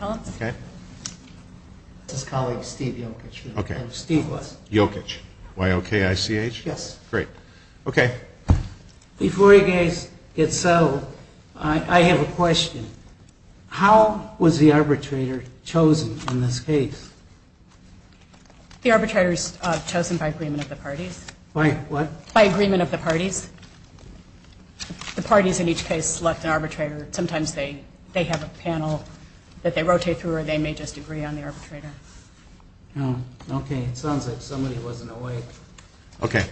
I have a question. How was the arbitrator chosen in this case? The arbitrator is chosen by agreement of the parties. By what? By agreement of the parties. The parties in each case select an arbitrator. Sometimes they have a panel that they rotate through or they may just agree on the arbitrator. Okay. It sounds like somebody wasn't awake. Okay.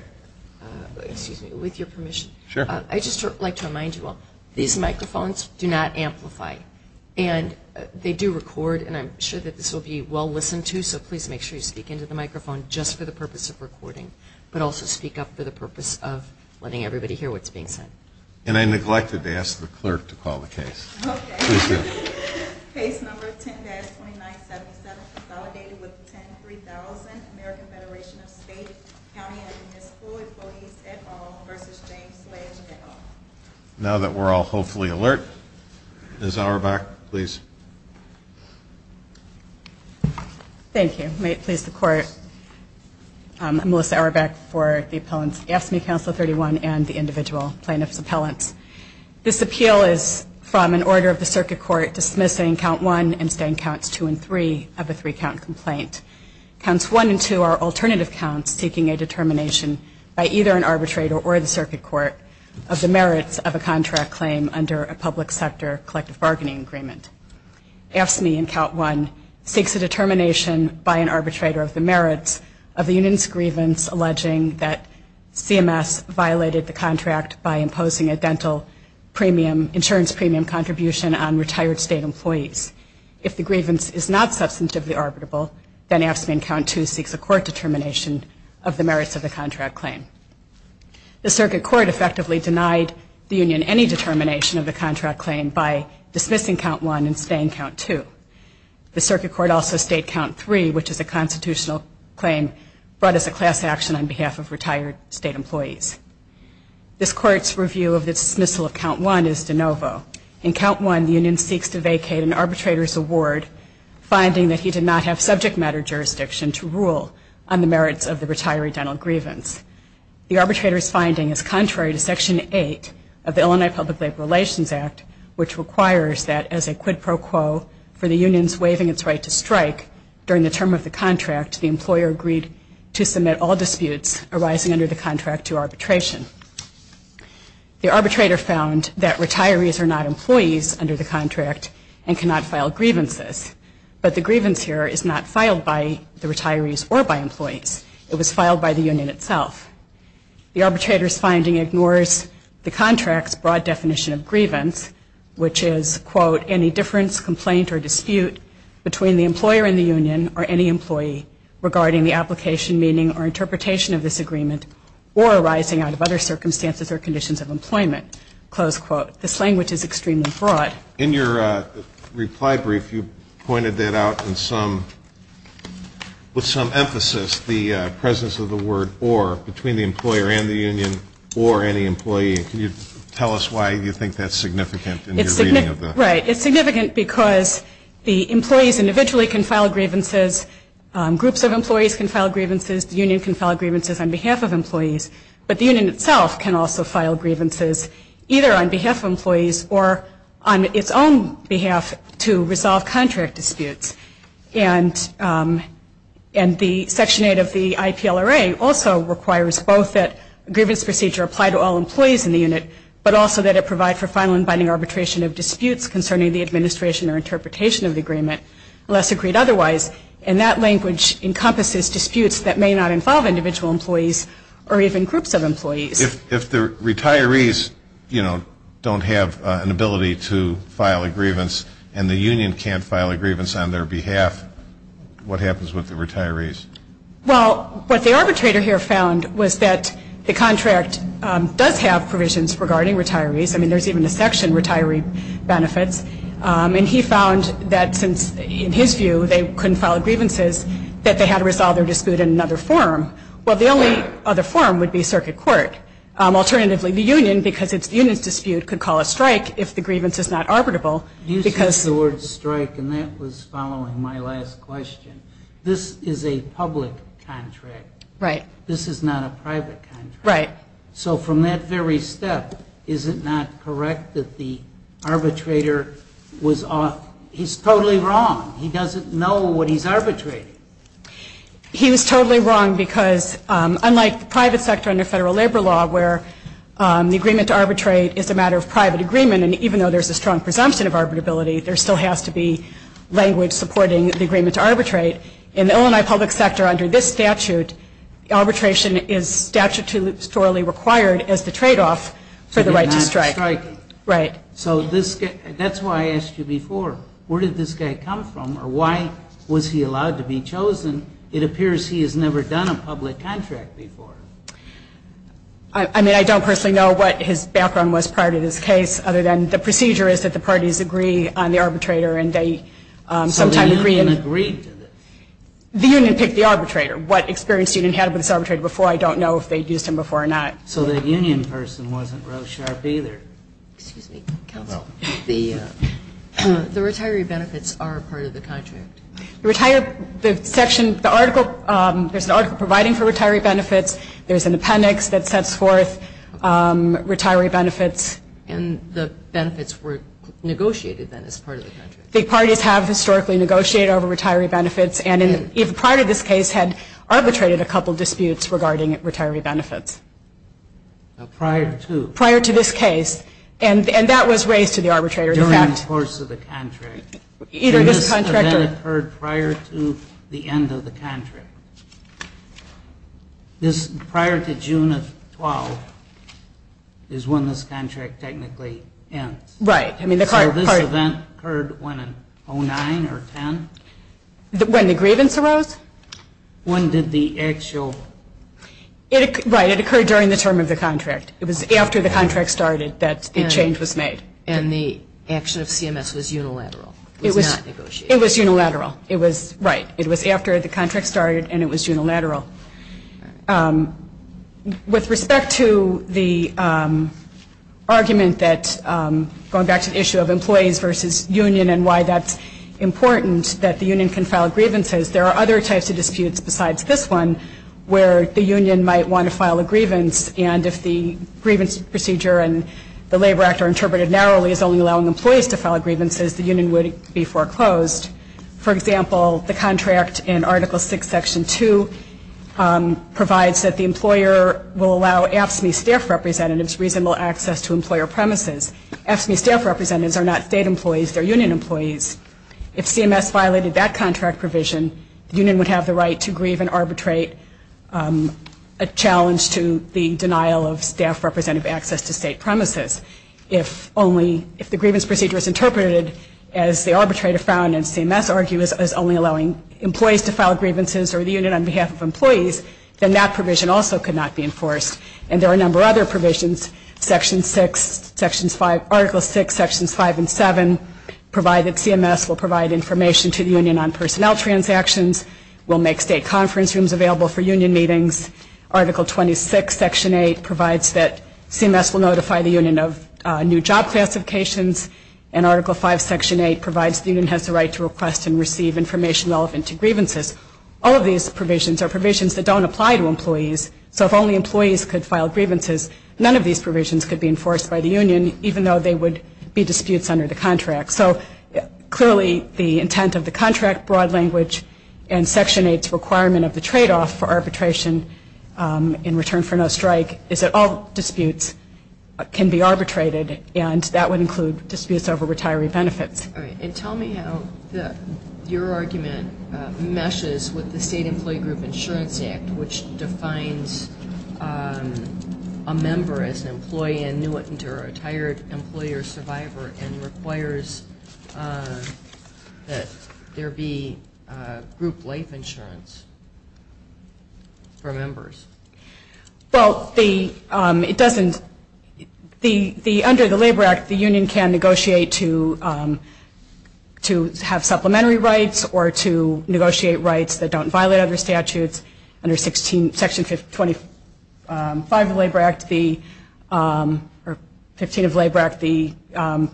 Excuse me. With your permission. Sure. I'd just like to remind you all, these microphones do not amplify. And they do record, and I'm sure that this will be well listened to, so please make sure you speak into the microphone just for the purpose of recording, but also speak up for the purpose of letting everybody hear what's being said. And I neglected to ask the clerk to call the case. Okay. Please do. Case number 10-2977, consolidated with 10-3000, American Federation of State, County and Municipal Employees et al. v. James Sledge et al. Now that we're all hopefully alert, Ms. Auerbach, please. Thank you. May it please the Court, I'm Melissa Auerbach for the appellants AFSCME Council 31 and the individual plaintiff's appellants. This appeal is from an order of the Circuit Court dismissing Count 1 and staying Counts 2 and 3 of a three-count complaint. Counts 1 and 2 are alternative counts seeking a determination by either an arbitrator or the Circuit Court of the merits of a contract claim under a public sector collective bargaining agreement. AFSCME in Count 1 seeks a determination by an arbitrator of the merits of the union's grievance alleging that CMS violated the contract by imposing a dental premium, insurance premium contribution on retired state employees. If the grievance is not substantively arbitrable, then AFSCME in Count 2 seeks a court determination of the merits of the contract claim. The Circuit Court effectively denied the union any determination of the contract claim by dismissing Count 1 and staying Count 2. The Circuit Court also stayed Count 3, which is a constitutional claim brought as a class action on behalf of retired state employees. This Court's review of the dismissal of Count 1 is de novo. In Count 1, the union seeks to vacate an arbitrator's award finding that he did not have subject matter jurisdiction to rule on the merits of the retiree dental grievance. The arbitrator's finding is contrary to Section 8 of the Illinois Public Labor Relations Act, which requires that as a quid pro quo for the union's waiving its right to strike during the term of the contract, the employer agreed to submit all disputes arising under the contract to arbitration. The arbitrator found that retirees are not employees under the contract and cannot file grievances, but the grievance here is not filed by the retirees or by employees. It was filed by the union itself. The arbitrator's finding ignores the contract's broad definition of grievance, which is, quote, any difference, complaint, or dispute between the employer and the union or any employee regarding the application, meaning or interpretation of this agreement or arising out of other circumstances or conditions of employment, close quote. This language is extremely broad. In your reply brief, you pointed that out with some emphasis, the presence of the word or between the employer and the union or any employee. Can you tell us why you think that's significant in your reading of that? Right. It's significant because the employees individually can file grievances. Groups of employees can file grievances. The union can file grievances on behalf of employees. But the union itself can also file grievances either on behalf of employees or on its own behalf to resolve contract disputes. And the Section 8 of the IPLRA also requires both that a grievance procedure apply to all employees in the unit, but also that it provide for final and binding arbitration of disputes concerning the administration or interpretation of the agreement unless agreed otherwise. And that language encompasses disputes that may not involve individual employees or even groups of employees. If the retirees, you know, don't have an ability to file a grievance and the union can't file a grievance on their behalf, what happens with the retirees? Well, what the arbitrator here found was that the contract does have provisions regarding retirees. I mean, there's even a section, retiree benefits. And he found that since, in his view, they couldn't file grievances, that they had to resolve their dispute in another forum. Well, the only other forum would be circuit court. Alternatively, the union, because it's the union's dispute, could call a strike if the grievance is not arbitrable. You used the word strike, and that was following my last question. This is a public contract. Right. This is not a private contract. Right. So from that very step, is it not correct that the arbitrator was off? He's totally wrong. He doesn't know what he's arbitrating. He was totally wrong because unlike the private sector under federal labor law where the agreement to arbitrate is a matter of private agreement, and even though there's a strong presumption of arbitrability, there still has to be language supporting the agreement to arbitrate. In the Illinois public sector under this statute, arbitration is statutorily required as the tradeoff for the right to strike. Right. So that's why I asked you before. Where did this guy come from, or why was he allowed to be chosen? It appears he has never done a public contract before. I mean, I don't personally know what his background was prior to this case, other than the procedure is that the parties agree on the arbitrator, and they sometimes agree. So the union agreed to this? The union picked the arbitrator. What experience the union had with this arbitrator before, I don't know if they used him before or not. So the union person wasn't Roe Sharp either. Excuse me, counsel. The retiree benefits are part of the contract. The section, the article, there's an article providing for retiree benefits. There's an appendix that sets forth retiree benefits. And the benefits were negotiated then as part of the contract. The parties have historically negotiated over retiree benefits, and prior to this case had arbitrated a couple disputes regarding retiree benefits. Prior to? Prior to this case. And that was raised to the arbitrator. During the course of the contract. This event occurred prior to the end of the contract. This prior to June of 12 is when this contract technically ends. Right. So this event occurred when in 09 or 10? When the grievance arose. When did the actual? Right. It occurred during the term of the contract. It was after the contract started that the change was made. And the action of CMS was unilateral. It was not negotiated. It was unilateral. Right. It was after the contract started, and it was unilateral. With respect to the argument that, going back to the issue of employees versus union and why that's important that the union can file grievances, there are other types of disputes besides this one where the union might want to file a grievance. And if the grievance procedure and the Labor Act are interpreted narrowly as only allowing employees to file grievances, the union would be foreclosed. For example, the contract in Article VI, Section 2, provides that the employer will allow AFSCME staff representatives reasonable access to employer premises. AFSCME staff representatives are not state employees. They're union employees. If CMS violated that contract provision, the union would have the right to grieve and arbitrate a challenge to the denial of staff representative access to state premises. If the grievance procedure is interpreted as the arbitrator found and CMS argues as only allowing employees to file grievances or the union on behalf of employees, then that provision also could not be enforced. And there are a number of other provisions. Section 6, Article 6, Sections 5 and 7 provide that CMS will provide information to the union on personnel transactions, will make state conference rooms available for union meetings. Article 26, Section 8, provides that CMS will notify the union of new job classifications. And Article 5, Section 8, provides the union has the right to request and receive information relevant to grievances. All of these provisions are provisions that don't apply to employees. So if only employees could file grievances, none of these provisions could be enforced by the union, even though they would be disputes under the contract. So clearly the intent of the contract, broad language, and Section 8's requirement of the tradeoff for arbitration in return for no strike is that all disputes can be arbitrated and that would include disputes over retiree benefits. And tell me how your argument meshes with the State Employee Group Insurance Act, which defines a member as an employee annuitant or a retired employee or survivor and requires that there be group life insurance for members. Well, under the Labor Act, the union can negotiate to have supplementary rights or to negotiate rights that don't violate other statutes. Under Section 25 of the Labor Act, or 15 of the Labor Act, the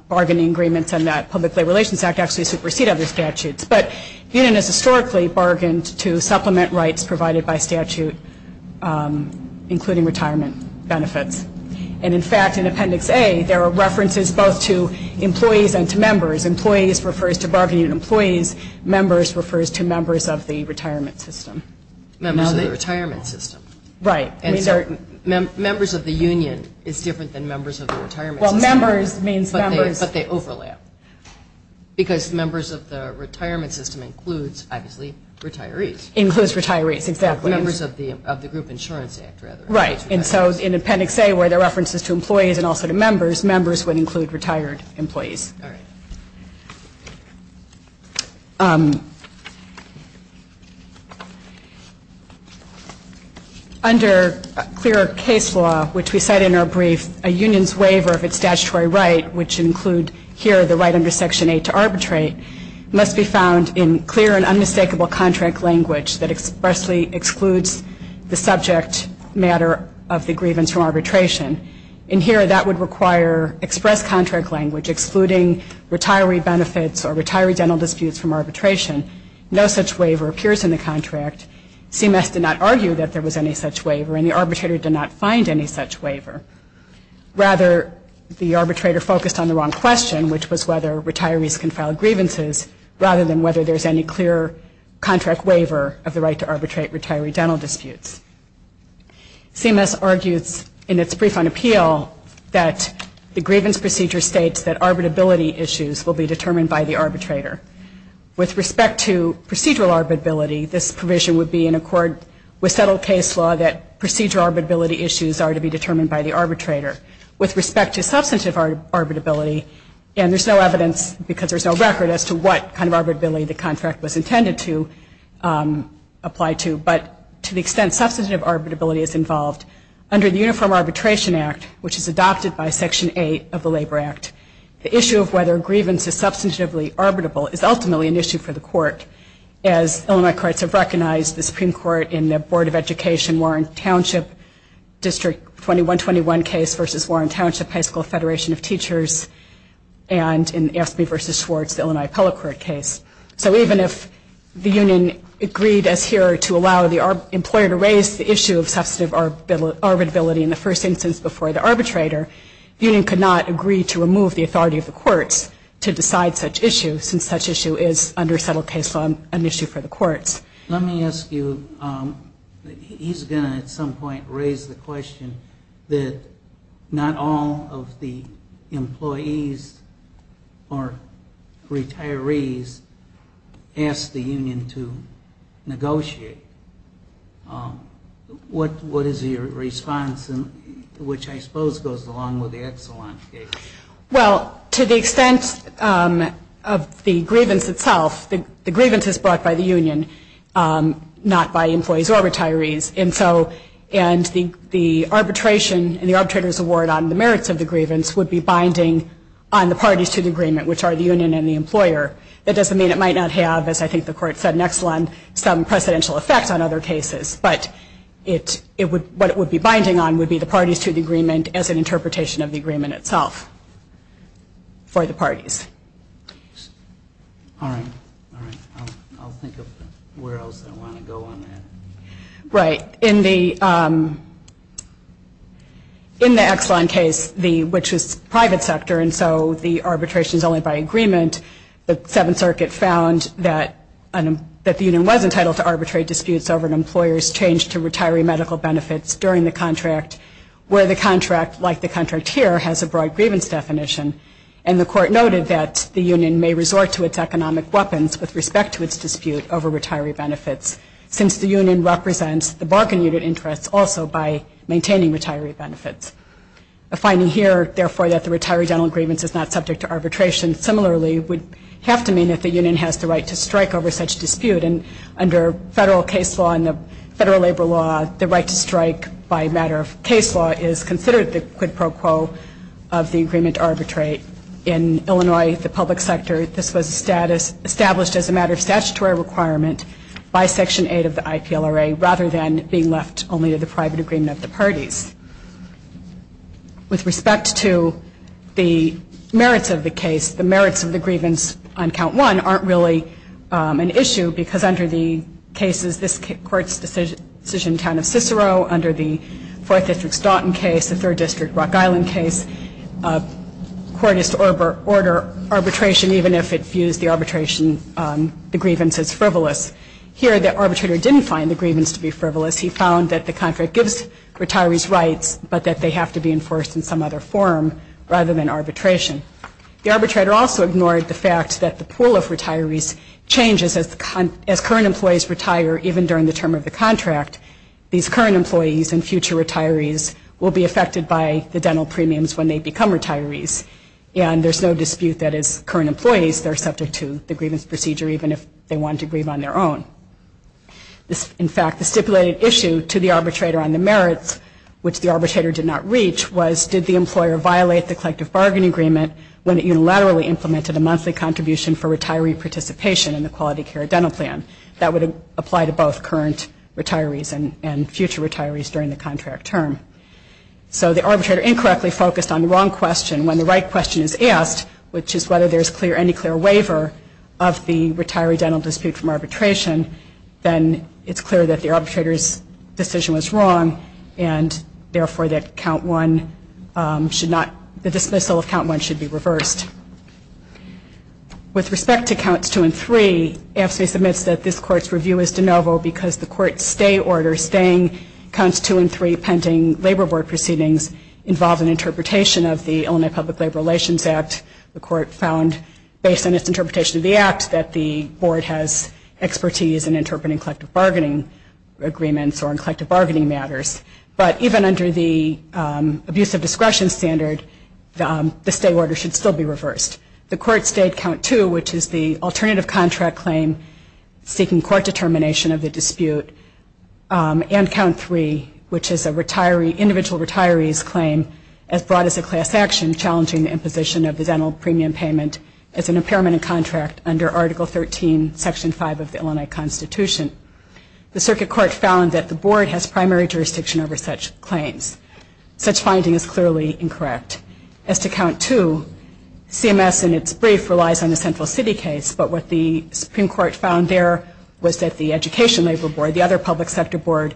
bargaining agreements on that Public Labor Relations Act actually supersede other statutes. But the union has historically bargained to supplement rights provided by statute, including retirement benefits. And in fact, in Appendix A, there are references both to employees and to members. Employees refers to bargaining employees. Members refers to members of the retirement system. Members of the retirement system. Right. And so members of the union is different than members of the retirement system. Well, members means members. But they overlap. Because members of the retirement system includes, obviously, retirees. Includes retirees, exactly. Members of the Group Insurance Act, rather. Right. And so in Appendix A, where there are references to employees and also to members, those members would include retired employees. All right. Under clear case law, which we cite in our brief, a union's waiver of its statutory right, which include here the right under Section 8 to arbitrate, must be found in clear and unmistakable contract language that expressly excludes the subject matter of the grievance from arbitration. In here, that would require express contract language, excluding retiree benefits or retiree dental disputes from arbitration. No such waiver appears in the contract. CMS did not argue that there was any such waiver, and the arbitrator did not find any such waiver. Rather, the arbitrator focused on the wrong question, which was whether retirees can file grievances, rather than whether there's any clear contract waiver of the right to arbitrate retiree dental disputes. CMS argues in its brief on appeal that the grievance procedure states that arbitrability issues will be determined by the arbitrator. With respect to procedural arbitrability, this provision would be in accord with settled case law that procedural arbitrability issues are to be determined by the arbitrator. With respect to substantive arbitrability, and there's no evidence, because there's no record, as to what kind of arbitrability the contract was intended to apply to, but to the extent substantive arbitrability is involved, under the Uniform Arbitration Act, which is adopted by Section 8 of the Labor Act, the issue of whether grievance is substantively arbitrable is ultimately an issue for the court, as Illinois Courts have recognized, the Supreme Court in the Board of Education Warren Township District 2121 case versus Warren Township High School Federation of Teachers, and in Aspey v. Schwartz, the Illinois Appellate Court case. So even if the union agreed as here to allow the employer to raise the issue of substantive arbitrability in the first instance before the arbitrator, the union could not agree to remove the authority of the courts to decide such issues, since such issue is, under settled case law, an issue for the courts. Let me ask you, he's going to at some point raise the question that not all of the employees or retirees ask the union to negotiate. What is your response, which I suppose goes along with the Exelon case? Well, to the extent of the grievance itself, the grievance is brought by the union, not by employees or retirees. And the arbitration and the arbitrator's award on the merits of the grievance would be binding on the parties to the agreement, which are the union and the employer. That doesn't mean it might not have, as I think the court said in Exelon, some presidential effect on other cases. But what it would be binding on would be the parties to the agreement as an interpretation of the agreement itself for the parties. All right. All right. I'll think of where else I want to go on that. Right. In the Exelon case, which was private sector, and so the arbitration is only by agreement, the Seventh Circuit found that the union was entitled to arbitrary disputes over an employer's change to retiree medical benefits during the contract, where the contract, like the contract here, has a broad grievance definition. And the court noted that the union may resort to its economic weapons with respect to its dispute over retiree benefits. Since the union represents the bargain unit interests also by maintaining retiree benefits. A finding here, therefore, that the retiree dental grievance is not subject to arbitration. Similarly, it would have to mean that the union has the right to strike over such dispute. And under federal case law and the federal labor law, the right to strike by matter of case law is considered the quid pro quo of the agreement to arbitrate. In Illinois, the public sector, this was established as a matter of statutory requirement by Section 8 of the IPLRA, rather than being left only to the private agreement of the parties. With respect to the merits of the case, the merits of the grievance on Count 1 aren't really an issue, because under the cases this Court's decision in the town of Cicero, under the Fourth District Staunton case, the Third District Rock Island case, court is to order arbitration, even if it views the grievance as frivolous. Here, the arbitrator didn't find the grievance to be frivolous. He found that the contract gives retirees rights, but that they have to be enforced in some other form, rather than arbitration. The arbitrator also ignored the fact that the pool of retirees changes as current employees retire, even during the term of the contract. These current employees and future retirees will be affected by the dental premiums when they become retirees, and there's no dispute that as current employees, they're subject to the grievance procedure, even if they want to grieve on their own. In fact, the stipulated issue to the arbitrator on the merits, which the arbitrator did not reach, was did the employer violate the collective bargaining agreement when it unilaterally implemented a monthly contribution for retiree participation in the quality care dental plan. That would apply to both current retirees and future retirees during the contract term. So the arbitrator incorrectly focused on the wrong question. When the right question is asked, which is whether there's any clear waiver of the retiree dental dispute from arbitration, then it's clear that the arbitrator's decision was wrong, and therefore the dismissal of Count 1 should be reversed. With respect to Counts 2 and 3, AFSCME submits that this Court's review is de novo because the Court's stay order, staying Counts 2 and 3, pending labor board proceedings, involves an interpretation of the Illinois Public Labor Relations Act. The Court found, based on its interpretation of the Act, that the Board has expertise in interpreting collective bargaining agreements or in collective bargaining matters. But even under the abuse of discretion standard, the stay order should still be reversed. The Court stayed Count 2, which is the alternative contract claim seeking court determination of the dispute, and Count 3, which is an individual retiree's claim as broad as a class action challenging the imposition of the dental premium payment as an impairment in contract under Article 13, Section 5 of the Illinois Constitution. The Circuit Court found that the Board has primary jurisdiction over such claims. Such finding is clearly incorrect. As to Count 2, CMS in its brief relies on the Central City case, but what the Supreme Court found there was that the Education Labor Board, the other public sector board,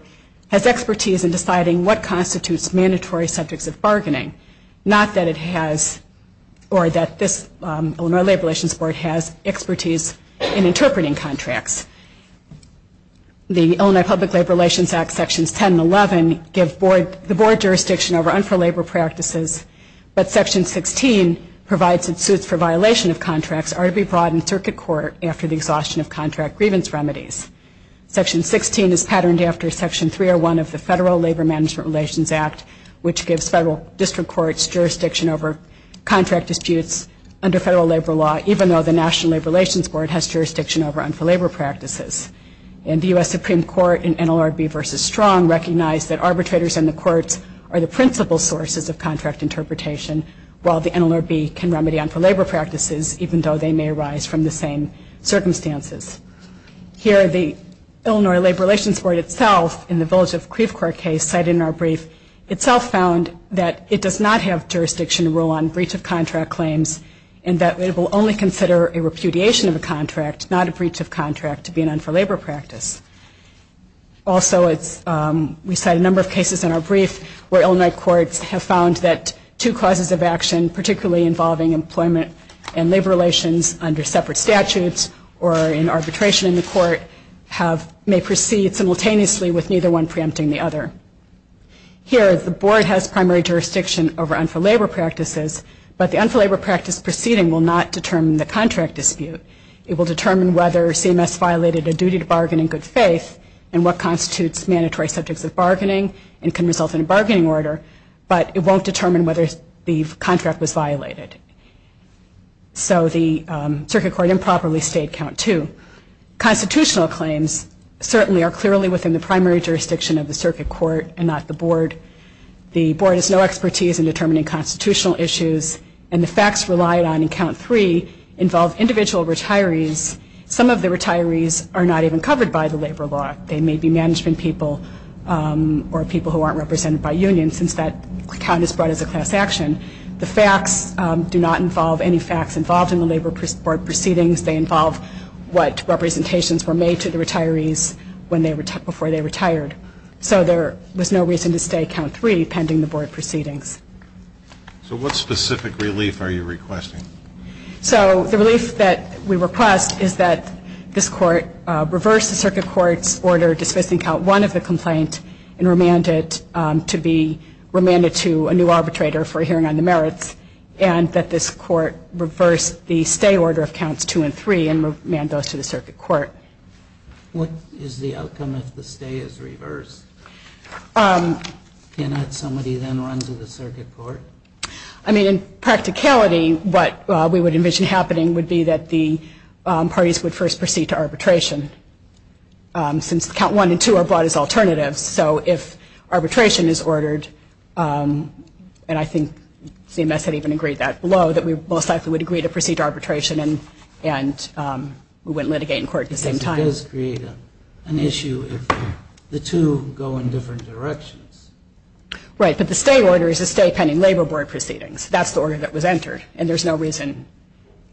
has expertise in deciding what constitutes mandatory subjects of bargaining. Not that it has, or that this Illinois Labor Relations Board has expertise in interpreting contracts. The Illinois Public Labor Relations Act, Sections 10 and 11, give the Board jurisdiction over unfair labor practices, but Section 16 provides it suits for violation of contracts are to be brought in Circuit Court after the exhaustion of contract grievance remedies. Section 16 is patterned after Section 301 of the Federal Labor Management Relations Act, which gives federal district courts jurisdiction over contract disputes under federal labor law, even though the National Labor Relations Board has jurisdiction over unfair labor practices. And the U.S. Supreme Court in NLRB v. Strong recognized that arbitrators in the courts are the principal sources of contract interpretation, while the NLRB can remedy unfair labor practices, even though they may arise from the same circumstances. Here, the Illinois Labor Relations Board itself, in the Village of Creve Court case, cited in our brief, itself found that it does not have jurisdiction to rule on breach of contract claims, and that it will only consider a repudiation of a contract, not a breach of contract, to be an unfair labor practice. Also, we cite a number of cases in our brief where Illinois courts have found that two causes of action, particularly involving employment and labor relations under separate statutes or in arbitration in the court, may proceed simultaneously with neither one preempting the other. Here, the board has primary jurisdiction over unfair labor practices, but the unfair labor practice proceeding will not determine the contract dispute. It will determine whether CMS violated a duty to bargain in good faith and what constitutes mandatory subjects of bargaining and can result in a bargaining order, but it won't determine whether the contract was violated. So the circuit court improperly stayed count two. Constitutional claims certainly are clearly within the primary jurisdiction of the circuit court and not the board. The board has no expertise in determining constitutional issues, and the facts relied on in count three involve individual retirees. Some of the retirees are not even covered by the labor law. They may be management people or people who aren't represented by unions, since that count is brought as a class action. The facts do not involve any facts involved in the labor board proceedings. They involve what representations were made to the retirees before they retired. So there was no reason to stay count three pending the board proceedings. So what specific relief are you requesting? So the relief that we request is that this court reverse the circuit court's order dismissing count one of the complaint and remand it to be remanded to a new arbitrator for a hearing on the merits and that this court reverse the stay order of counts two and three and remand those to the circuit court. What is the outcome if the stay is reversed? Can that somebody then run to the circuit court? I mean, in practicality, what we would envision happening would be that the parties would first proceed to arbitration, since count one and two are brought as alternatives. So if arbitration is ordered, and I think CMS had even agreed that below, that we most likely would agree to proceed to arbitration and we wouldn't litigate in court at the same time. Because it does create an issue if the two go in different directions. Right, but the stay order is a stay pending labor board proceedings. That's the order that was entered, and there's no reason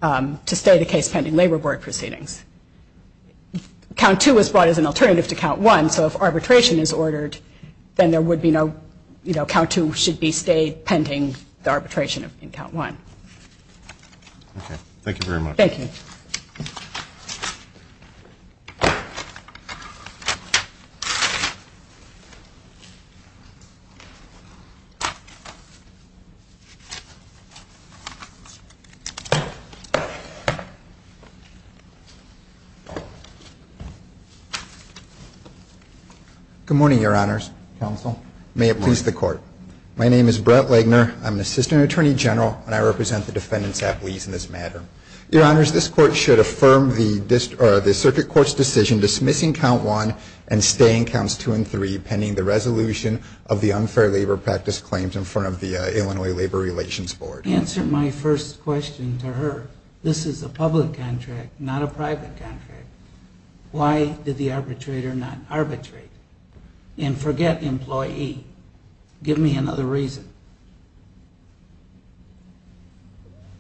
to stay the case pending labor board proceedings. Count two was brought as an alternative to count one, so if arbitration is ordered, then there would be no, you know, count two should be stayed pending the arbitration in count one. Okay, thank you very much. Thank you. Thank you. Good morning, Your Honors. Counsel. May it please the Court. My name is Brett Legner. I'm an assistant attorney general, and I represent the defendants' affilies in this matter. Your Honors, this Court should affirm the circuit court's decision dismissing count one and staying counts two and three pending the resolution of the unfair labor practice claims in front of the Illinois Labor Relations Board. Answer my first question to her. This is a public contract, not a private contract. Why did the arbitrator not arbitrate? And forget employee. Give me another reason.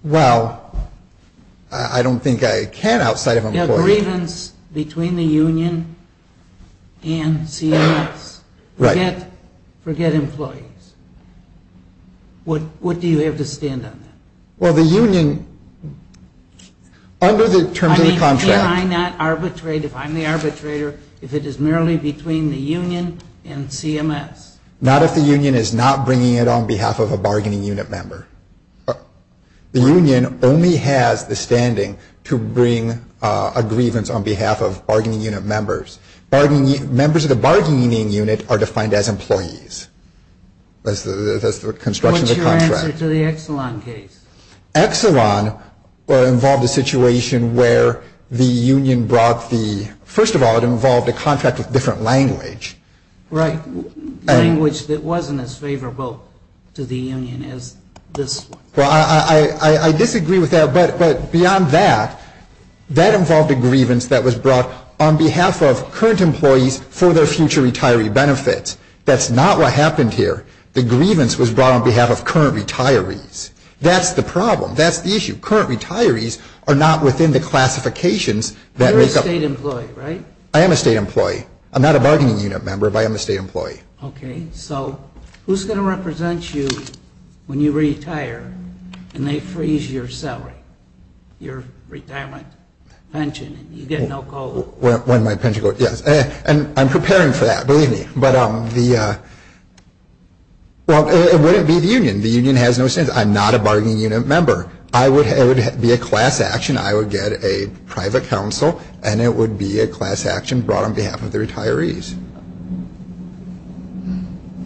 Well, I don't think I can outside of employee. The grievance between the union and CMS. Right. Forget employees. What do you have to stand on that? Well, the union, under the terms of the contract. I mean, can I not arbitrate if I'm the arbitrator if it is merely between the union and CMS? Not if the union is not bringing it on behalf of a bargaining unit member. The union only has the standing to bring a grievance on behalf of bargaining unit members. Members of the bargaining unit are defined as employees. That's the construction of the contract. What's your answer to the Exelon case? Exelon involved a situation where the union brought the, first of all, it involved a contract with different language. Right. Language that wasn't as favorable to the union as this one. Well, I disagree with that. But beyond that, that involved a grievance that was brought on behalf of current employees for their future retiree benefits. That's not what happened here. The grievance was brought on behalf of current retirees. That's the problem. That's the issue. Current retirees are not within the classifications that make up. You're a state employee, right? I am a state employee. I'm not a bargaining unit member, but I am a state employee. Okay. So who's going to represent you when you retire and they freeze your salary, your retirement pension? You get no coal. When my pension goes, yes. And I'm preparing for that, believe me. But the, well, it wouldn't be the union. The union has no say. I'm not a bargaining unit member. It would be a class action. I would get a private counsel, and it would be a class action brought on behalf of the retirees.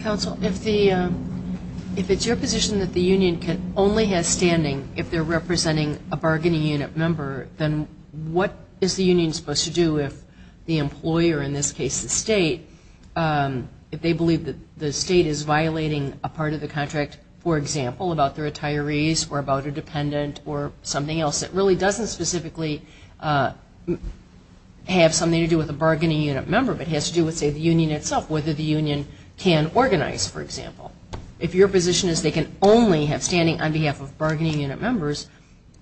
Counsel, if it's your position that the union only has standing if they're representing a bargaining unit member, then what is the union supposed to do if the employee, or in this case the state, if they believe that the state is violating a part of the contract, for example, about the retirees or about a dependent or something else that really doesn't specifically have something to do with a bargaining unit member, but has to do with, say, the union itself, whether the union can organize, for example. If your position is they can only have standing on behalf of bargaining unit members,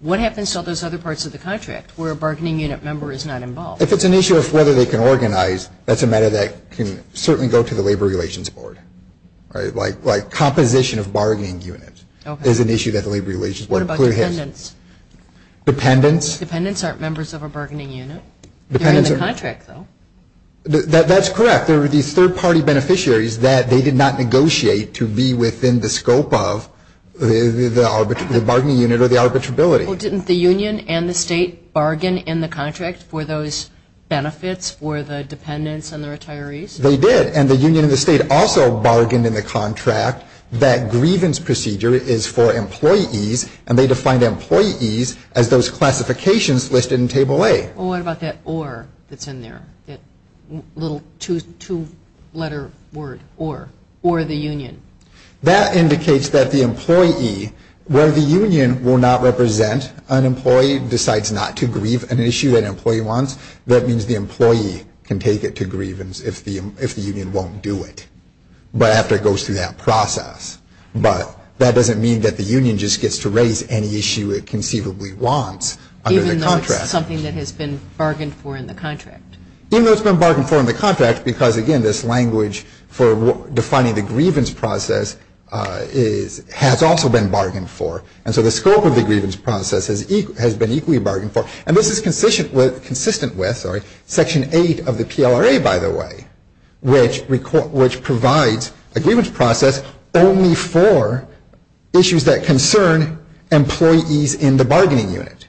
what happens to all those other parts of the contract where a bargaining unit member is not involved? If it's an issue of whether they can organize, that's a matter that can certainly go to the Labor Relations Board. Like composition of bargaining units is an issue that the Labor Relations Board clearly has. Dependents? Dependents. Dependents aren't members of a bargaining unit. They're in the contract, though. That's correct. They're the third-party beneficiaries that they did not negotiate to be within the scope of the bargaining unit or the arbitrability. Well, didn't the union and the state bargain in the contract for those benefits for the dependents and the retirees? They did, and the union and the state also bargained in the contract. That grievance procedure is for employees, and they defined employees as those classifications listed in Table A. Well, what about that or that's in there, that little two-letter word, or, or the union? That indicates that the employee, where the union will not represent an employee, decides not to grieve an issue that an employee wants, that means the employee can take it to grievance if the union won't do it. But after it goes through that process. But that doesn't mean that the union just gets to raise any issue it conceivably wants under the contract. Even though it's something that has been bargained for in the contract. Even though it's been bargained for in the contract because, again, this language for defining the grievance process has also been bargained for. And so the scope of the grievance process has been equally bargained for. And this is consistent with, sorry, Section 8 of the PLRA, by the way, which provides a grievance process only for issues that concern employees in the bargaining unit.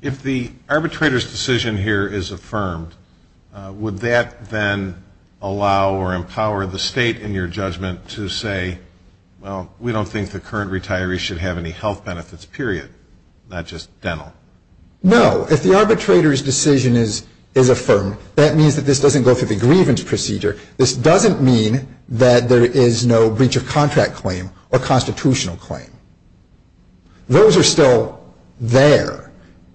If the arbitrator's decision here is affirmed, would that then allow or empower the state in your judgment to say, well, we don't think the current retirees should have any health benefits, period, not just dental? No. If the arbitrator's decision is affirmed, that means that this doesn't go through the grievance procedure. This doesn't mean that there is no breach of contract claim or constitutional claim. Those are still there.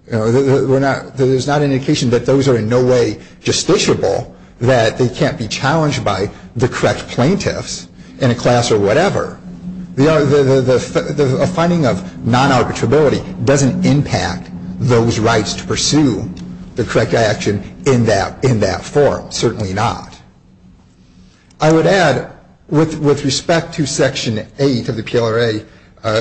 There's not an indication that those are in no way justiciable, that they can't be challenged by the correct plaintiffs in a class or whatever. A finding of non-arbitrability doesn't impact those rights to pursue the correct action in that form. Certainly not. I would add, with respect to Section 8 of the PLRA,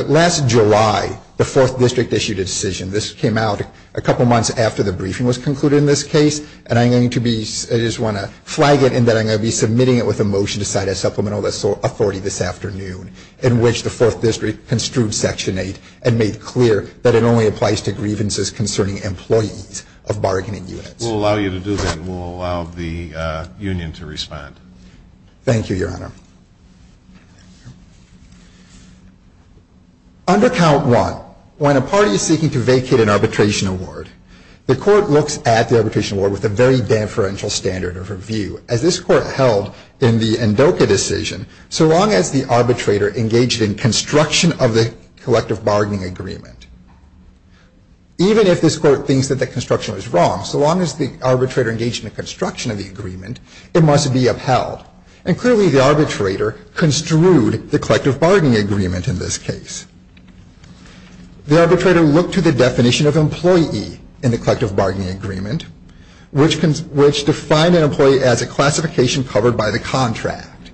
last July, the 4th District issued a decision. This came out a couple months after the briefing was concluded in this case, and I'm going to be, I just want to flag it in that I'm going to be submitting it with a motion to cite a supplemental authority this afternoon in which the 4th District construed Section 8 and made clear that it only applies to grievances concerning employees of bargaining units. We'll allow you to do that, and we'll allow the union to respond. Thank you, Your Honor. Under Count 1, when a party is seeking to vacate an arbitration award, the court looks at the arbitration award with a very deferential standard of review. As this court held in the NDOCA decision, so long as the arbitrator engaged in construction of the collective bargaining agreement, even if this court thinks that the construction was wrong, so long as the arbitrator engaged in the construction of the agreement, it must be upheld. And clearly the arbitrator construed the collective bargaining agreement in this case. The arbitrator looked to the definition of employee in the collective bargaining agreement, which defined an employee as a classification covered by the contract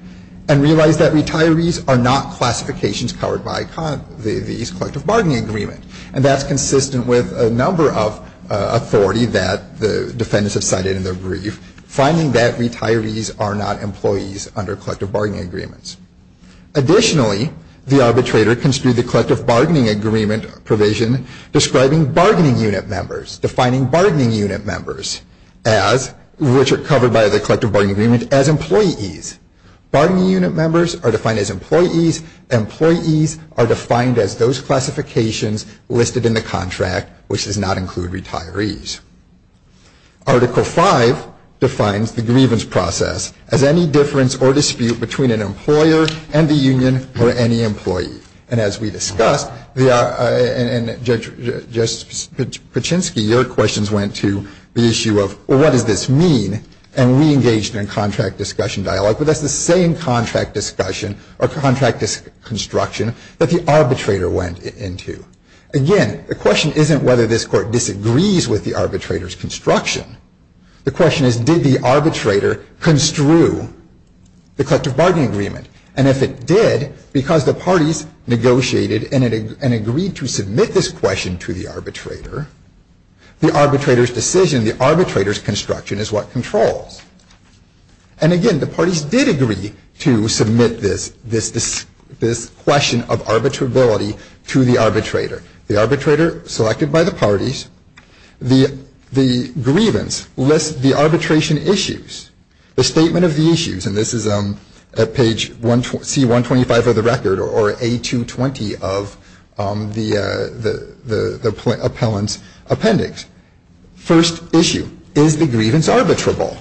and realized that retirees are not classifications covered by these collective bargaining agreements. And that's consistent with a number of authority that the defendants have cited in their brief, finding that retirees are not employees under collective bargaining agreements. Additionally, the arbitrator construed the collective bargaining agreement provision describing bargaining unit members, defining bargaining unit members as, which are covered by the collective bargaining agreement, as employees. Bargaining unit members are defined as employees. Employees are defined as those classifications listed in the contract, which does not include retirees. Article 5 defines the grievance process as any difference or dispute between an employer and the union or any employee. And as we discussed, and Judge Paczynski, your questions went to the issue of, well, what does this mean? And we engaged in contract discussion dialogue, but that's the same contract discussion or contract construction that the arbitrator went into. Again, the question isn't whether this Court disagrees with the arbitrator's construction. The question is, did the arbitrator construe the collective bargaining agreement? And if it did, because the parties negotiated and agreed to submit this question to the arbitrator, the arbitrator's decision, the arbitrator's construction, is what controls. And again, the parties did agree to submit this question of arbitrability to the arbitrator. The arbitrator, selected by the parties, the grievance lists the arbitration issues, the statement of the issues, and this is at page C125 of the record or A220 of the appellant's appendix. First issue, is the grievance arbitrable?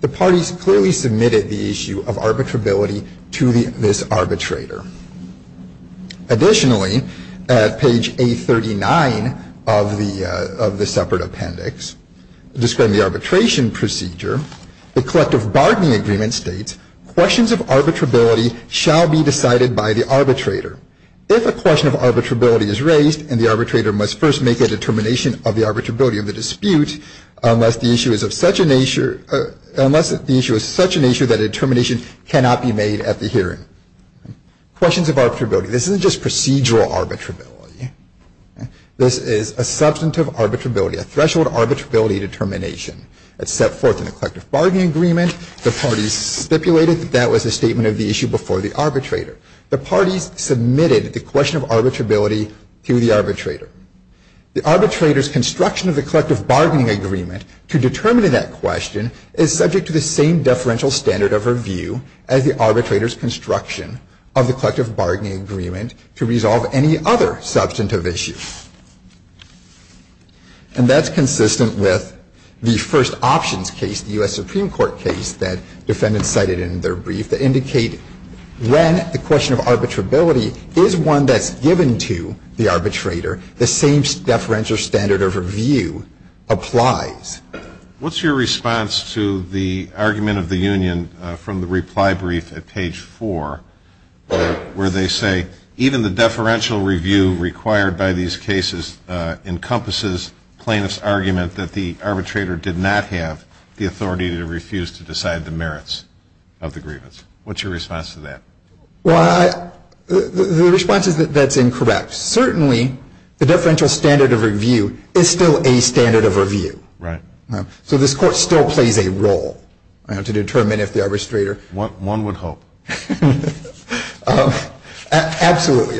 The parties clearly submitted the issue of arbitrability to this arbitrator. Additionally, at page A39 of the separate appendix, describing the arbitration procedure, the collective bargaining agreement states, questions of arbitrability shall be decided by the arbitrator. If a question of arbitrability is raised, and the arbitrator must first make a determination of the arbitrability of the dispute, unless the issue is of such a nature that a determination cannot be made at the hearing. Questions of arbitrability. This isn't just procedural arbitrability. This is a substantive arbitrability, a threshold arbitrability determination. It's set forth in the collective bargaining agreement. The parties stipulated that that was a statement of the issue before the arbitrator. The parties submitted the question of arbitrability to the arbitrator. The arbitrator's construction of the collective bargaining agreement to determine that question is subject to the same deferential standard of review as the arbitrator's construction of the collective bargaining agreement to resolve any other substantive issue. And that's consistent with the first options case, the U.S. Supreme Court case, that defendants cited in their brief, that indicate when the question of arbitrability is one that's given to the arbitrator, the same deferential standard of review applies. What's your response to the argument of the union from the reply brief at page 4 where they say, even the deferential review required by these cases encompasses plaintiff's argument that the arbitrator did not have the authority to refuse to decide the merits of the grievance. What's your response to that? Well, the response is that that's incorrect. Certainly, the deferential standard of review is still a standard of review. Right. So this Court still plays a role to determine if the arbitrator. One would hope. Absolutely.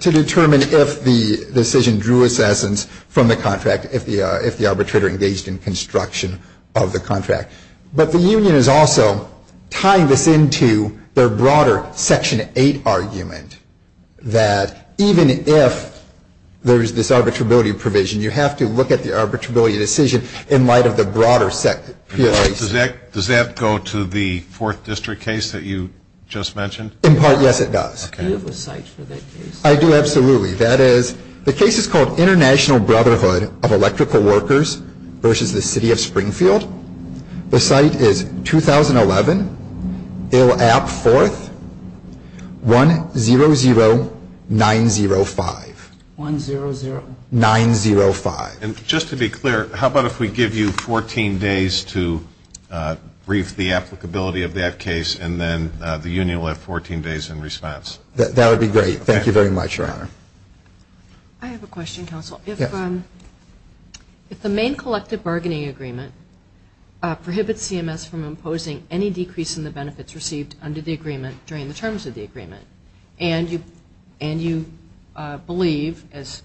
To determine if the decision drew assessments from the contract, if the arbitrator engaged in construction of the contract. But the union is also tying this into their broader Section 8 argument, that even if there's this arbitrability provision, you have to look at the arbitrability decision in light of the broader PSA. Does that go to the Fourth District case that you just mentioned? In part, yes, it does. Okay. Do you have a cite for that case? I do, absolutely. That is, the case is called International Brotherhood of Electrical Workers versus the City of Springfield. The cite is 2011, ILAP 4th, 100905. 100? 905. And just to be clear, how about if we give you 14 days to brief the applicability of that case, and then the union will have 14 days in response? That would be great. Thank you very much, Your Honor. I have a question, counsel. Yes. If the main collective bargaining agreement prohibits CMS from imposing any decrease in the benefits received under the agreement during the terms of the agreement, and you believe, as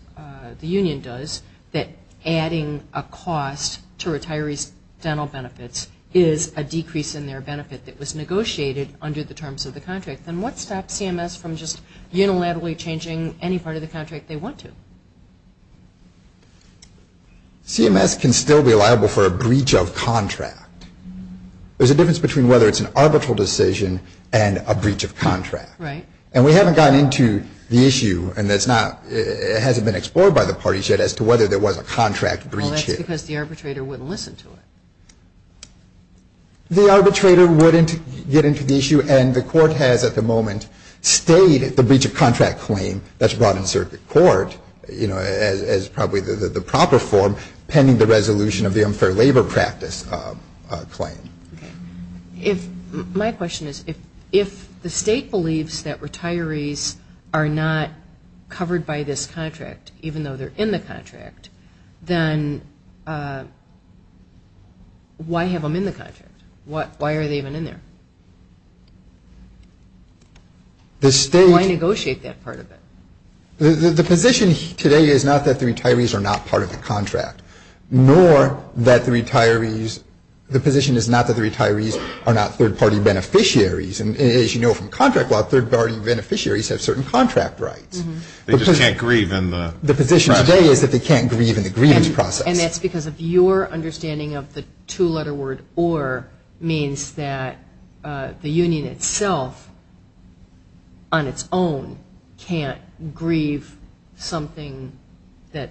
the union does, that adding a cost to retirees' dental benefits is a decrease in their benefit that was negotiated under the terms of the contract, then what stops CMS from just unilaterally changing any part of the contract they want to? CMS can still be liable for a breach of contract. There's a difference between whether it's an arbitral decision and a breach of contract. Right. And we haven't gotten into the issue, and it hasn't been explored by the parties yet as to whether there was a contract breach here. Well, that's because the arbitrator wouldn't listen to it. The arbitrator wouldn't get into the issue, and the court has at the moment stayed at the breach of contract claim that's brought in circuit court as probably the proper form pending the resolution of the unfair labor practice claim. My question is, if the state believes that retirees are not covered by this contract, even though they're in the contract, then why have them in the contract? Why are they even in there? Why negotiate that part of it? The position today is not that the retirees are not part of the contract, nor that the retirees, the position is not that the retirees are not third-party beneficiaries. And as you know from contract law, third-party beneficiaries have certain contract rights. They just can't grieve in the process. The position today is that they can't grieve in the grievance process. And that's because of your understanding of the two-letter word or means that the union itself on its own can't grieve something that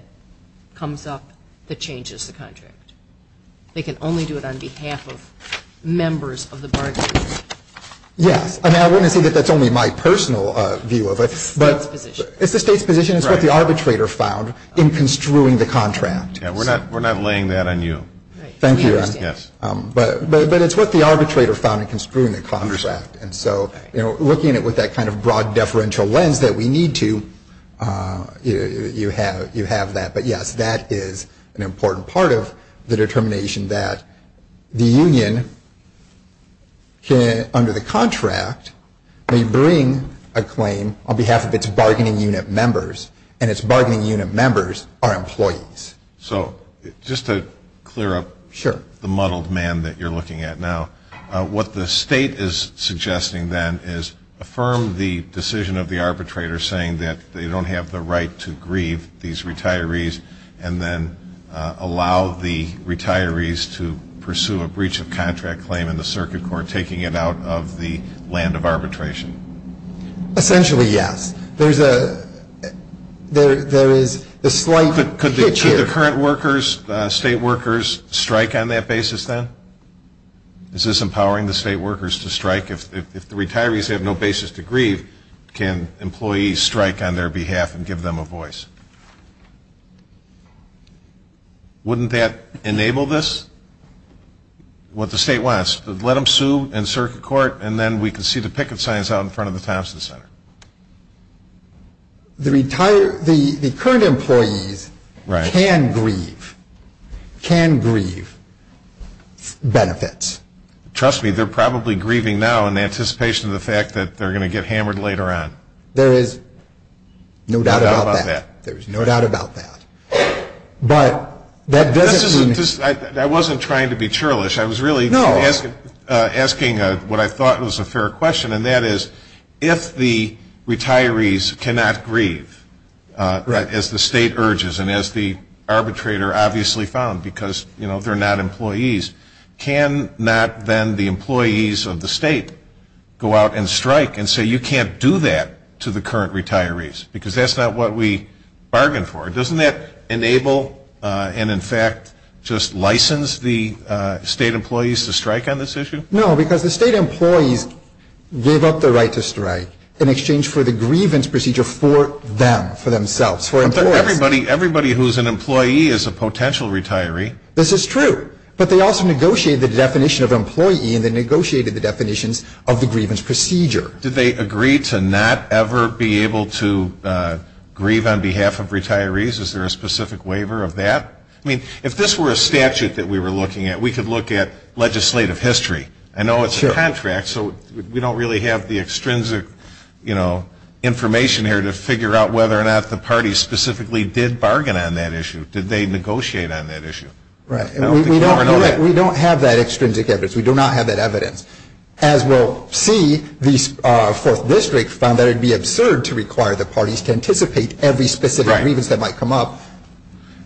comes up that changes the contract. They can only do it on behalf of members of the bargaining group. Yes. And I wouldn't say that that's only my personal view of it. It's the state's position. It's the state's position. It's what the arbitrator found in construing the contract. We're not laying that on you. Thank you. But it's what the arbitrator found in construing the contract. And so looking at it with that kind of broad deferential lens that we need to, you have that. But, yes, that is an important part of the determination that the union, under the contract, may bring a claim on behalf of its bargaining unit members, and its bargaining unit members are employees. So just to clear up the muddled man that you're looking at now, what the state is suggesting then is affirm the decision of the arbitrator saying that they don't have the right to grieve these retirees and then allow the retirees to pursue a breach of contract claim in the circuit court, taking it out of the land of arbitration. Essentially, yes. There is a slight hitch here. Could the current workers, state workers, strike on that basis then? Is this empowering the state workers to strike? If the retirees have no basis to grieve, can employees strike on their behalf and give them a voice? Wouldn't that enable this? What the state wants, let them sue in circuit court, and then we can see the picket signs out in front of the Thompson Center. The current employees can grieve, can grieve benefits. Trust me, they're probably grieving now in anticipation of the fact that they're going to get hammered later on. There is no doubt about that. There is no doubt about that. I wasn't trying to be churlish. I was really asking what I thought was a fair question, and that is if the retirees cannot grieve as the state urges and as the arbitrator obviously found because they're not employees, can not then the employees of the state go out and strike and say you can't do that to the current retirees? Because that's not what we bargained for. Doesn't that enable and in fact just license the state employees to strike on this issue? No, because the state employees gave up their right to strike in exchange for the grievance procedure for them, for themselves, for employees. Everybody who is an employee is a potential retiree. This is true, but they also negotiated the definition of employee and they negotiated the definitions of the grievance procedure. Did they agree to not ever be able to grieve on behalf of retirees? Is there a specific waiver of that? I mean, if this were a statute that we were looking at, we could look at legislative history. I know it's a contract, so we don't really have the extrinsic information here to figure out whether or not the parties specifically did bargain on that issue. Did they negotiate on that issue? We don't have that extrinsic evidence. We do not have that evidence. As we'll see, the 4th District found that it would be absurd to require the parties to anticipate every specific grievance that might come up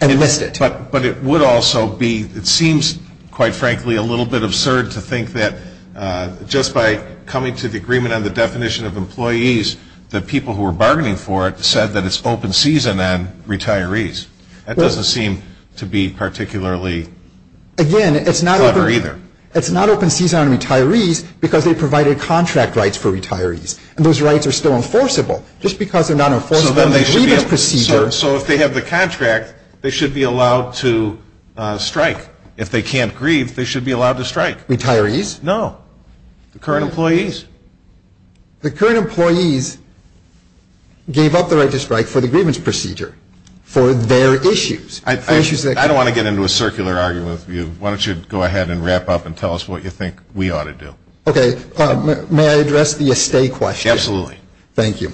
and list it. But it would also be, it seems quite frankly a little bit absurd to think that just by coming to the agreement on the definition of employees, the people who were bargaining for it said that it's open season on retirees. That doesn't seem to be particularly clever either. Again, it's not open season on retirees because they provided contract rights for retirees. And those rights are still enforceable. Just because they're not enforceable in the grievance procedure. So if they have the contract, they should be allowed to strike. If they can't grieve, they should be allowed to strike. Retirees? No. The current employees. The current employees gave up the right to strike for the grievance procedure for their issues. I don't want to get into a circular argument with you. Why don't you go ahead and wrap up and tell us what you think we ought to do. Okay. May I address the estate question? Absolutely. Thank you.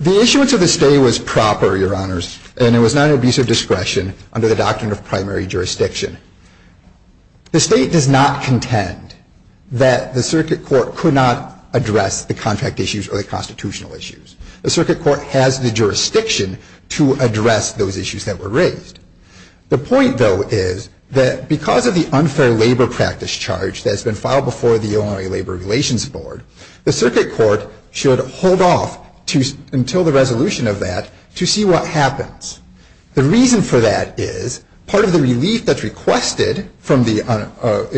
The issuance of the estate was proper, Your Honors, and it was not an abuse of discretion under the doctrine of primary jurisdiction. The State does not contend that the Circuit Court could not address the contract issues or the constitutional issues. The Circuit Court has the jurisdiction to address those issues that were raised. The point, though, is that because of the unfair labor practice charge that's been filed before the Illinois Labor Relations Board, the Circuit Court should hold off until the resolution of that to see what happens. The reason for that is part of the relief that's requested from the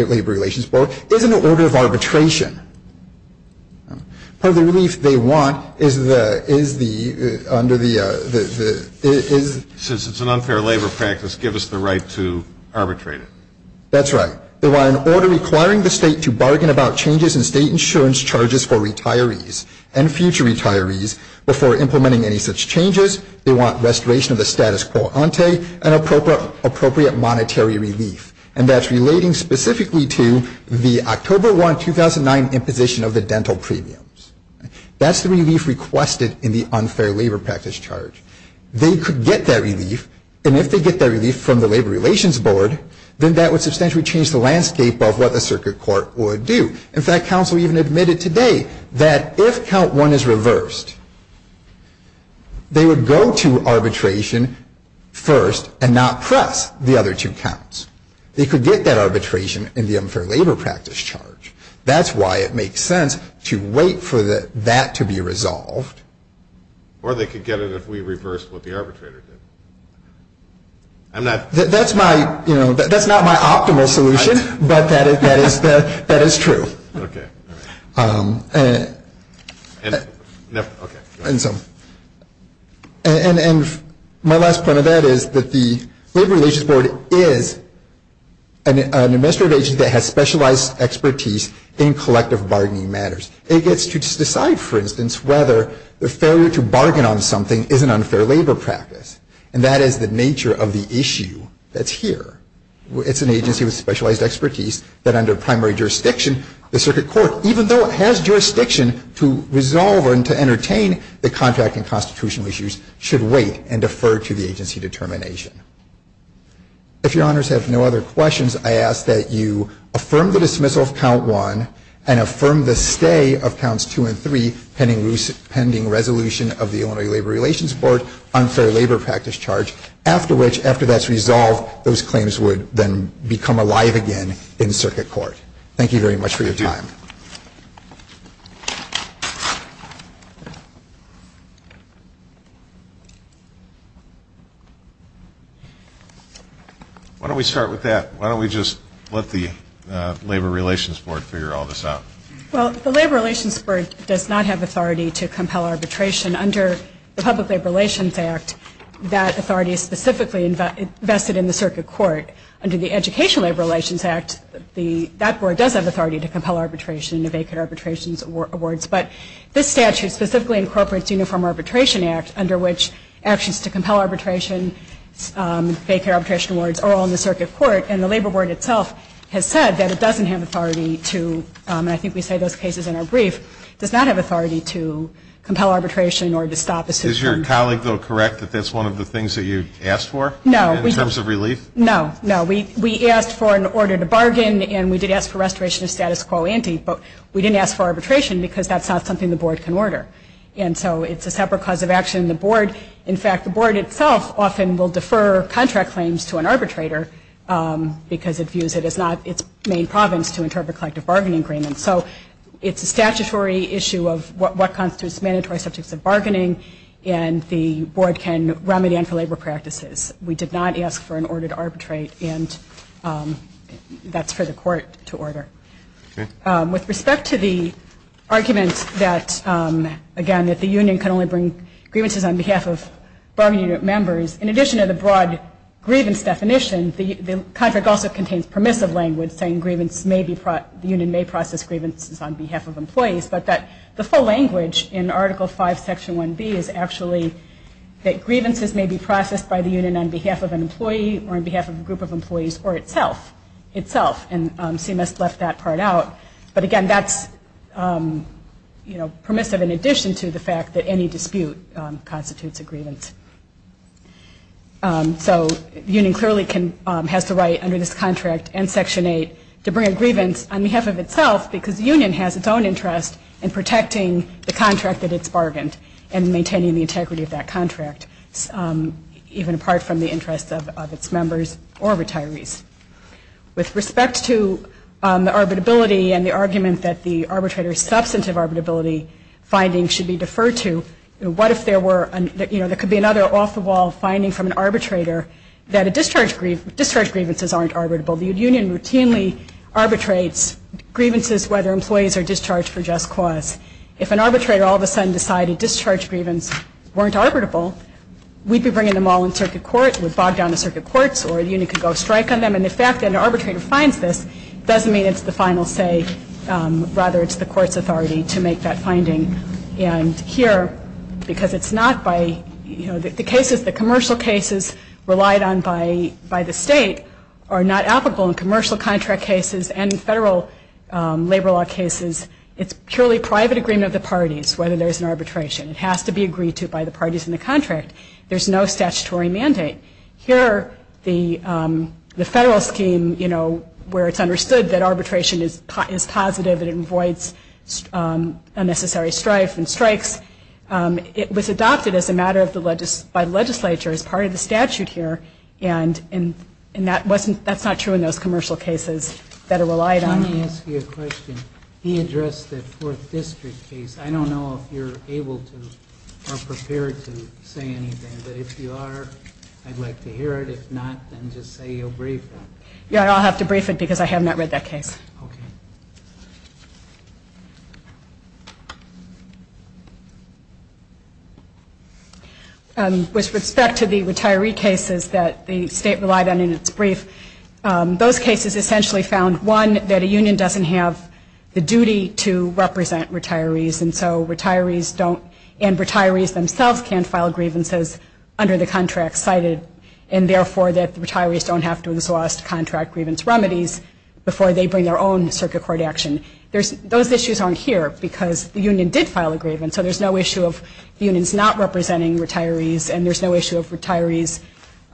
Labor Relations Board is an order of arbitration. Part of the relief they want is the, is the, under the, is the unfair labor practice give us the right to arbitrate it? That's right. They want an order requiring the State to bargain about changes in State insurance charges for retirees and future retirees before implementing any such changes. They want restoration of the status quo ante and appropriate monetary relief, and that's relating specifically to the October 1, 2009, imposition of the dental premiums. That's the relief requested in the unfair labor practice charge. They could get that relief, and if they get that relief from the Labor Relations Board, then that would substantially change the landscape of what the Circuit Court would do. In fact, counsel even admitted today that if count one is reversed, they would go to arbitration first and not press the other two counts. They could get that arbitration in the unfair labor practice charge. That's why it makes sense to wait for that to be resolved. Or they could get it if we reversed what the arbitrator did. I'm not. That's my, you know, that's not my optimal solution, but that is the, that is true. Okay, all right. And my last point of that is that the Labor Relations Board is an administrative agency that has specialized expertise in collective bargaining matters. It gets to decide, for instance, whether the failure to bargain on something is an unfair labor practice, and that is the nature of the issue that's here. It's an agency with specialized expertise that under primary jurisdiction, the Circuit Court, even though it has jurisdiction to resolve and to entertain the contract and constitutional issues, should wait and defer to the agency determination. If your honors have no other questions, I ask that you affirm the dismissal of count one and affirm the stay of counts two and three pending resolution of the Illinois Labor Relations Board unfair labor practice charge, after which, after that's resolved, those claims would then become alive again in Circuit Court. Thank you very much for your time. Thank you. Why don't we start with that? Why don't we just let the Labor Relations Board figure all this out? Well, the Labor Relations Board does not have authority to compel arbitration. Under the Public Labor Relations Act, that authority is specifically invested in the Circuit Court. Under the Education Labor Relations Act, that board does have authority to compel arbitration and to vacate arbitration awards, but this statute specifically incorporates Uniform Arbitration Act, under which actions to compel arbitration, vacate arbitration awards, are all in the Circuit Court, and the Labor Board itself has said that it doesn't have authority to, and I think we say those cases in our brief, does not have authority to compel arbitration or to stop a suit from Is your colleague, though, correct that that's one of the things that you asked for? No. In terms of relief? No, no. We asked for an order to bargain, and we did ask for restoration of status quo ante, but we didn't ask for arbitration because that's not something the board can order, and so it's a separate cause of action. The board, in fact, the board itself often will defer contract claims to an arbitrator because it views it as not its main province to interpret collective bargaining agreements, so it's a statutory issue of what constitutes mandatory subjects of bargaining, and the board can remedy them for labor practices. We did not ask for an order to arbitrate, and that's for the court to order. With respect to the argument that, again, that the union can only bring grievances on behalf of bargaining unit members, in addition to the broad grievance definition, the contract also contains permissive language saying the union may process grievances on behalf of employees, but the full language in Article V, Section 1B is actually that grievances may be processed by the union on behalf of an employee or on behalf of a group of employees or itself, and CMS left that part out, but, again, that's permissive in addition to the fact that any dispute constitutes a grievance. So the union clearly has the right under this contract and Section 8 to bring a grievance on behalf of itself because the union has its own interest in protecting the contract that it's bargained and maintaining the integrity of that contract, even apart from the interest of its members or retirees. With respect to the arbitrability and the argument that the arbitrator's substantive arbitrability finding should be deferred to, what if there were, you know, there could be another off-the-wall finding from an arbitrator that discharge grievances aren't arbitrable. The union routinely arbitrates grievances whether employees are discharged for just cause. If an arbitrator all of a sudden decided discharge grievance weren't arbitrable, we'd be bringing them all in circuit court, we'd bog down the circuit courts, or the union could go strike on them, and the fact that an arbitrator finds this doesn't mean it's the final say. Rather, it's the court's authority to make that finding. And here, because it's not by, you know, the cases, the commercial cases relied on by the state are not applicable in commercial contract cases and in federal labor law cases. It's purely private agreement of the parties whether there's an arbitration. It has to be agreed to by the parties in the contract. There's no statutory mandate. Here, the federal scheme, you know, where it's understood that arbitration is positive and it avoids unnecessary strife and strikes, it was adopted as a matter by the legislature as part of the statute here, and that's not true in those commercial cases that are relied on. Let me ask you a question. He addressed the Fourth District case. I don't know if you're able to or prepared to say anything, but if you are, I'd like to hear it. If not, then just say you'll brief it. Yeah, I'll have to brief it because I have not read that case. Okay. With respect to the retiree cases that the state relied on in its brief, those cases essentially found, one, that a union doesn't have the duty to represent retirees and so retirees don't and retirees themselves can't file grievances under the contract cited and therefore that the retirees don't have to exhaust contract grievance remedies before they bring their own circuit court action. Those issues aren't here because the union did file a grievance, so there's no issue of unions not representing retirees and there's no issue of retirees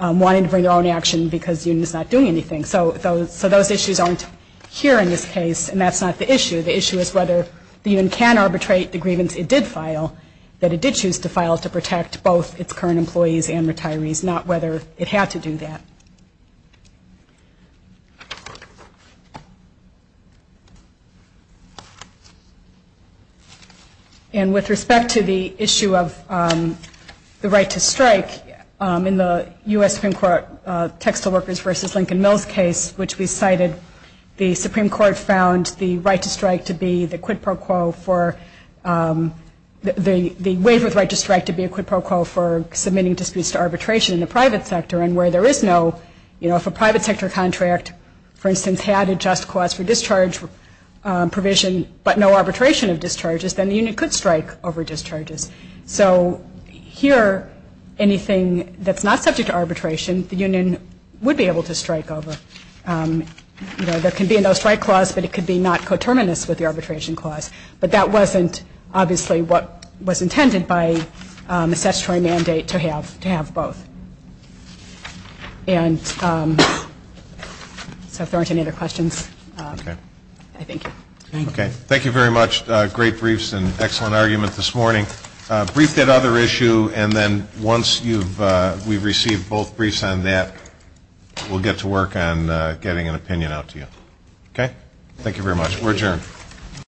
wanting to bring their own action because the union is not doing anything. So those issues aren't here in this case and that's not the issue. The issue is whether the union can arbitrate the grievance it did file, that it did choose to file to protect both its current employees and retirees, not whether it had to do that. And with respect to the issue of the right to strike, in the U.S. Supreme Court textile workers versus Lincoln Mills case, which we cited, the Supreme Court found the right to strike to be the quid pro quo for, the waiver of the right to strike to be a quid pro quo for submitting disputes to arbitration in the private sector and where there is no, you know, if a private sector contract, for instance, had a just cause for discharge provision but no arbitration of discharges, then the union could strike over discharges. So here, anything that's not subject to arbitration, the union would be able to strike over. You know, there could be a no strike clause, but it could be not coterminous with the arbitration clause. But that wasn't obviously what was intended by the statutory mandate to have both. And so if there aren't any other questions, I thank you. Okay. Thank you very much. Great briefs and excellent argument this morning. Brief that other issue, and then once we've received both briefs on that, we'll get to work on getting an opinion out to you. Okay? Thank you very much. We're adjourned.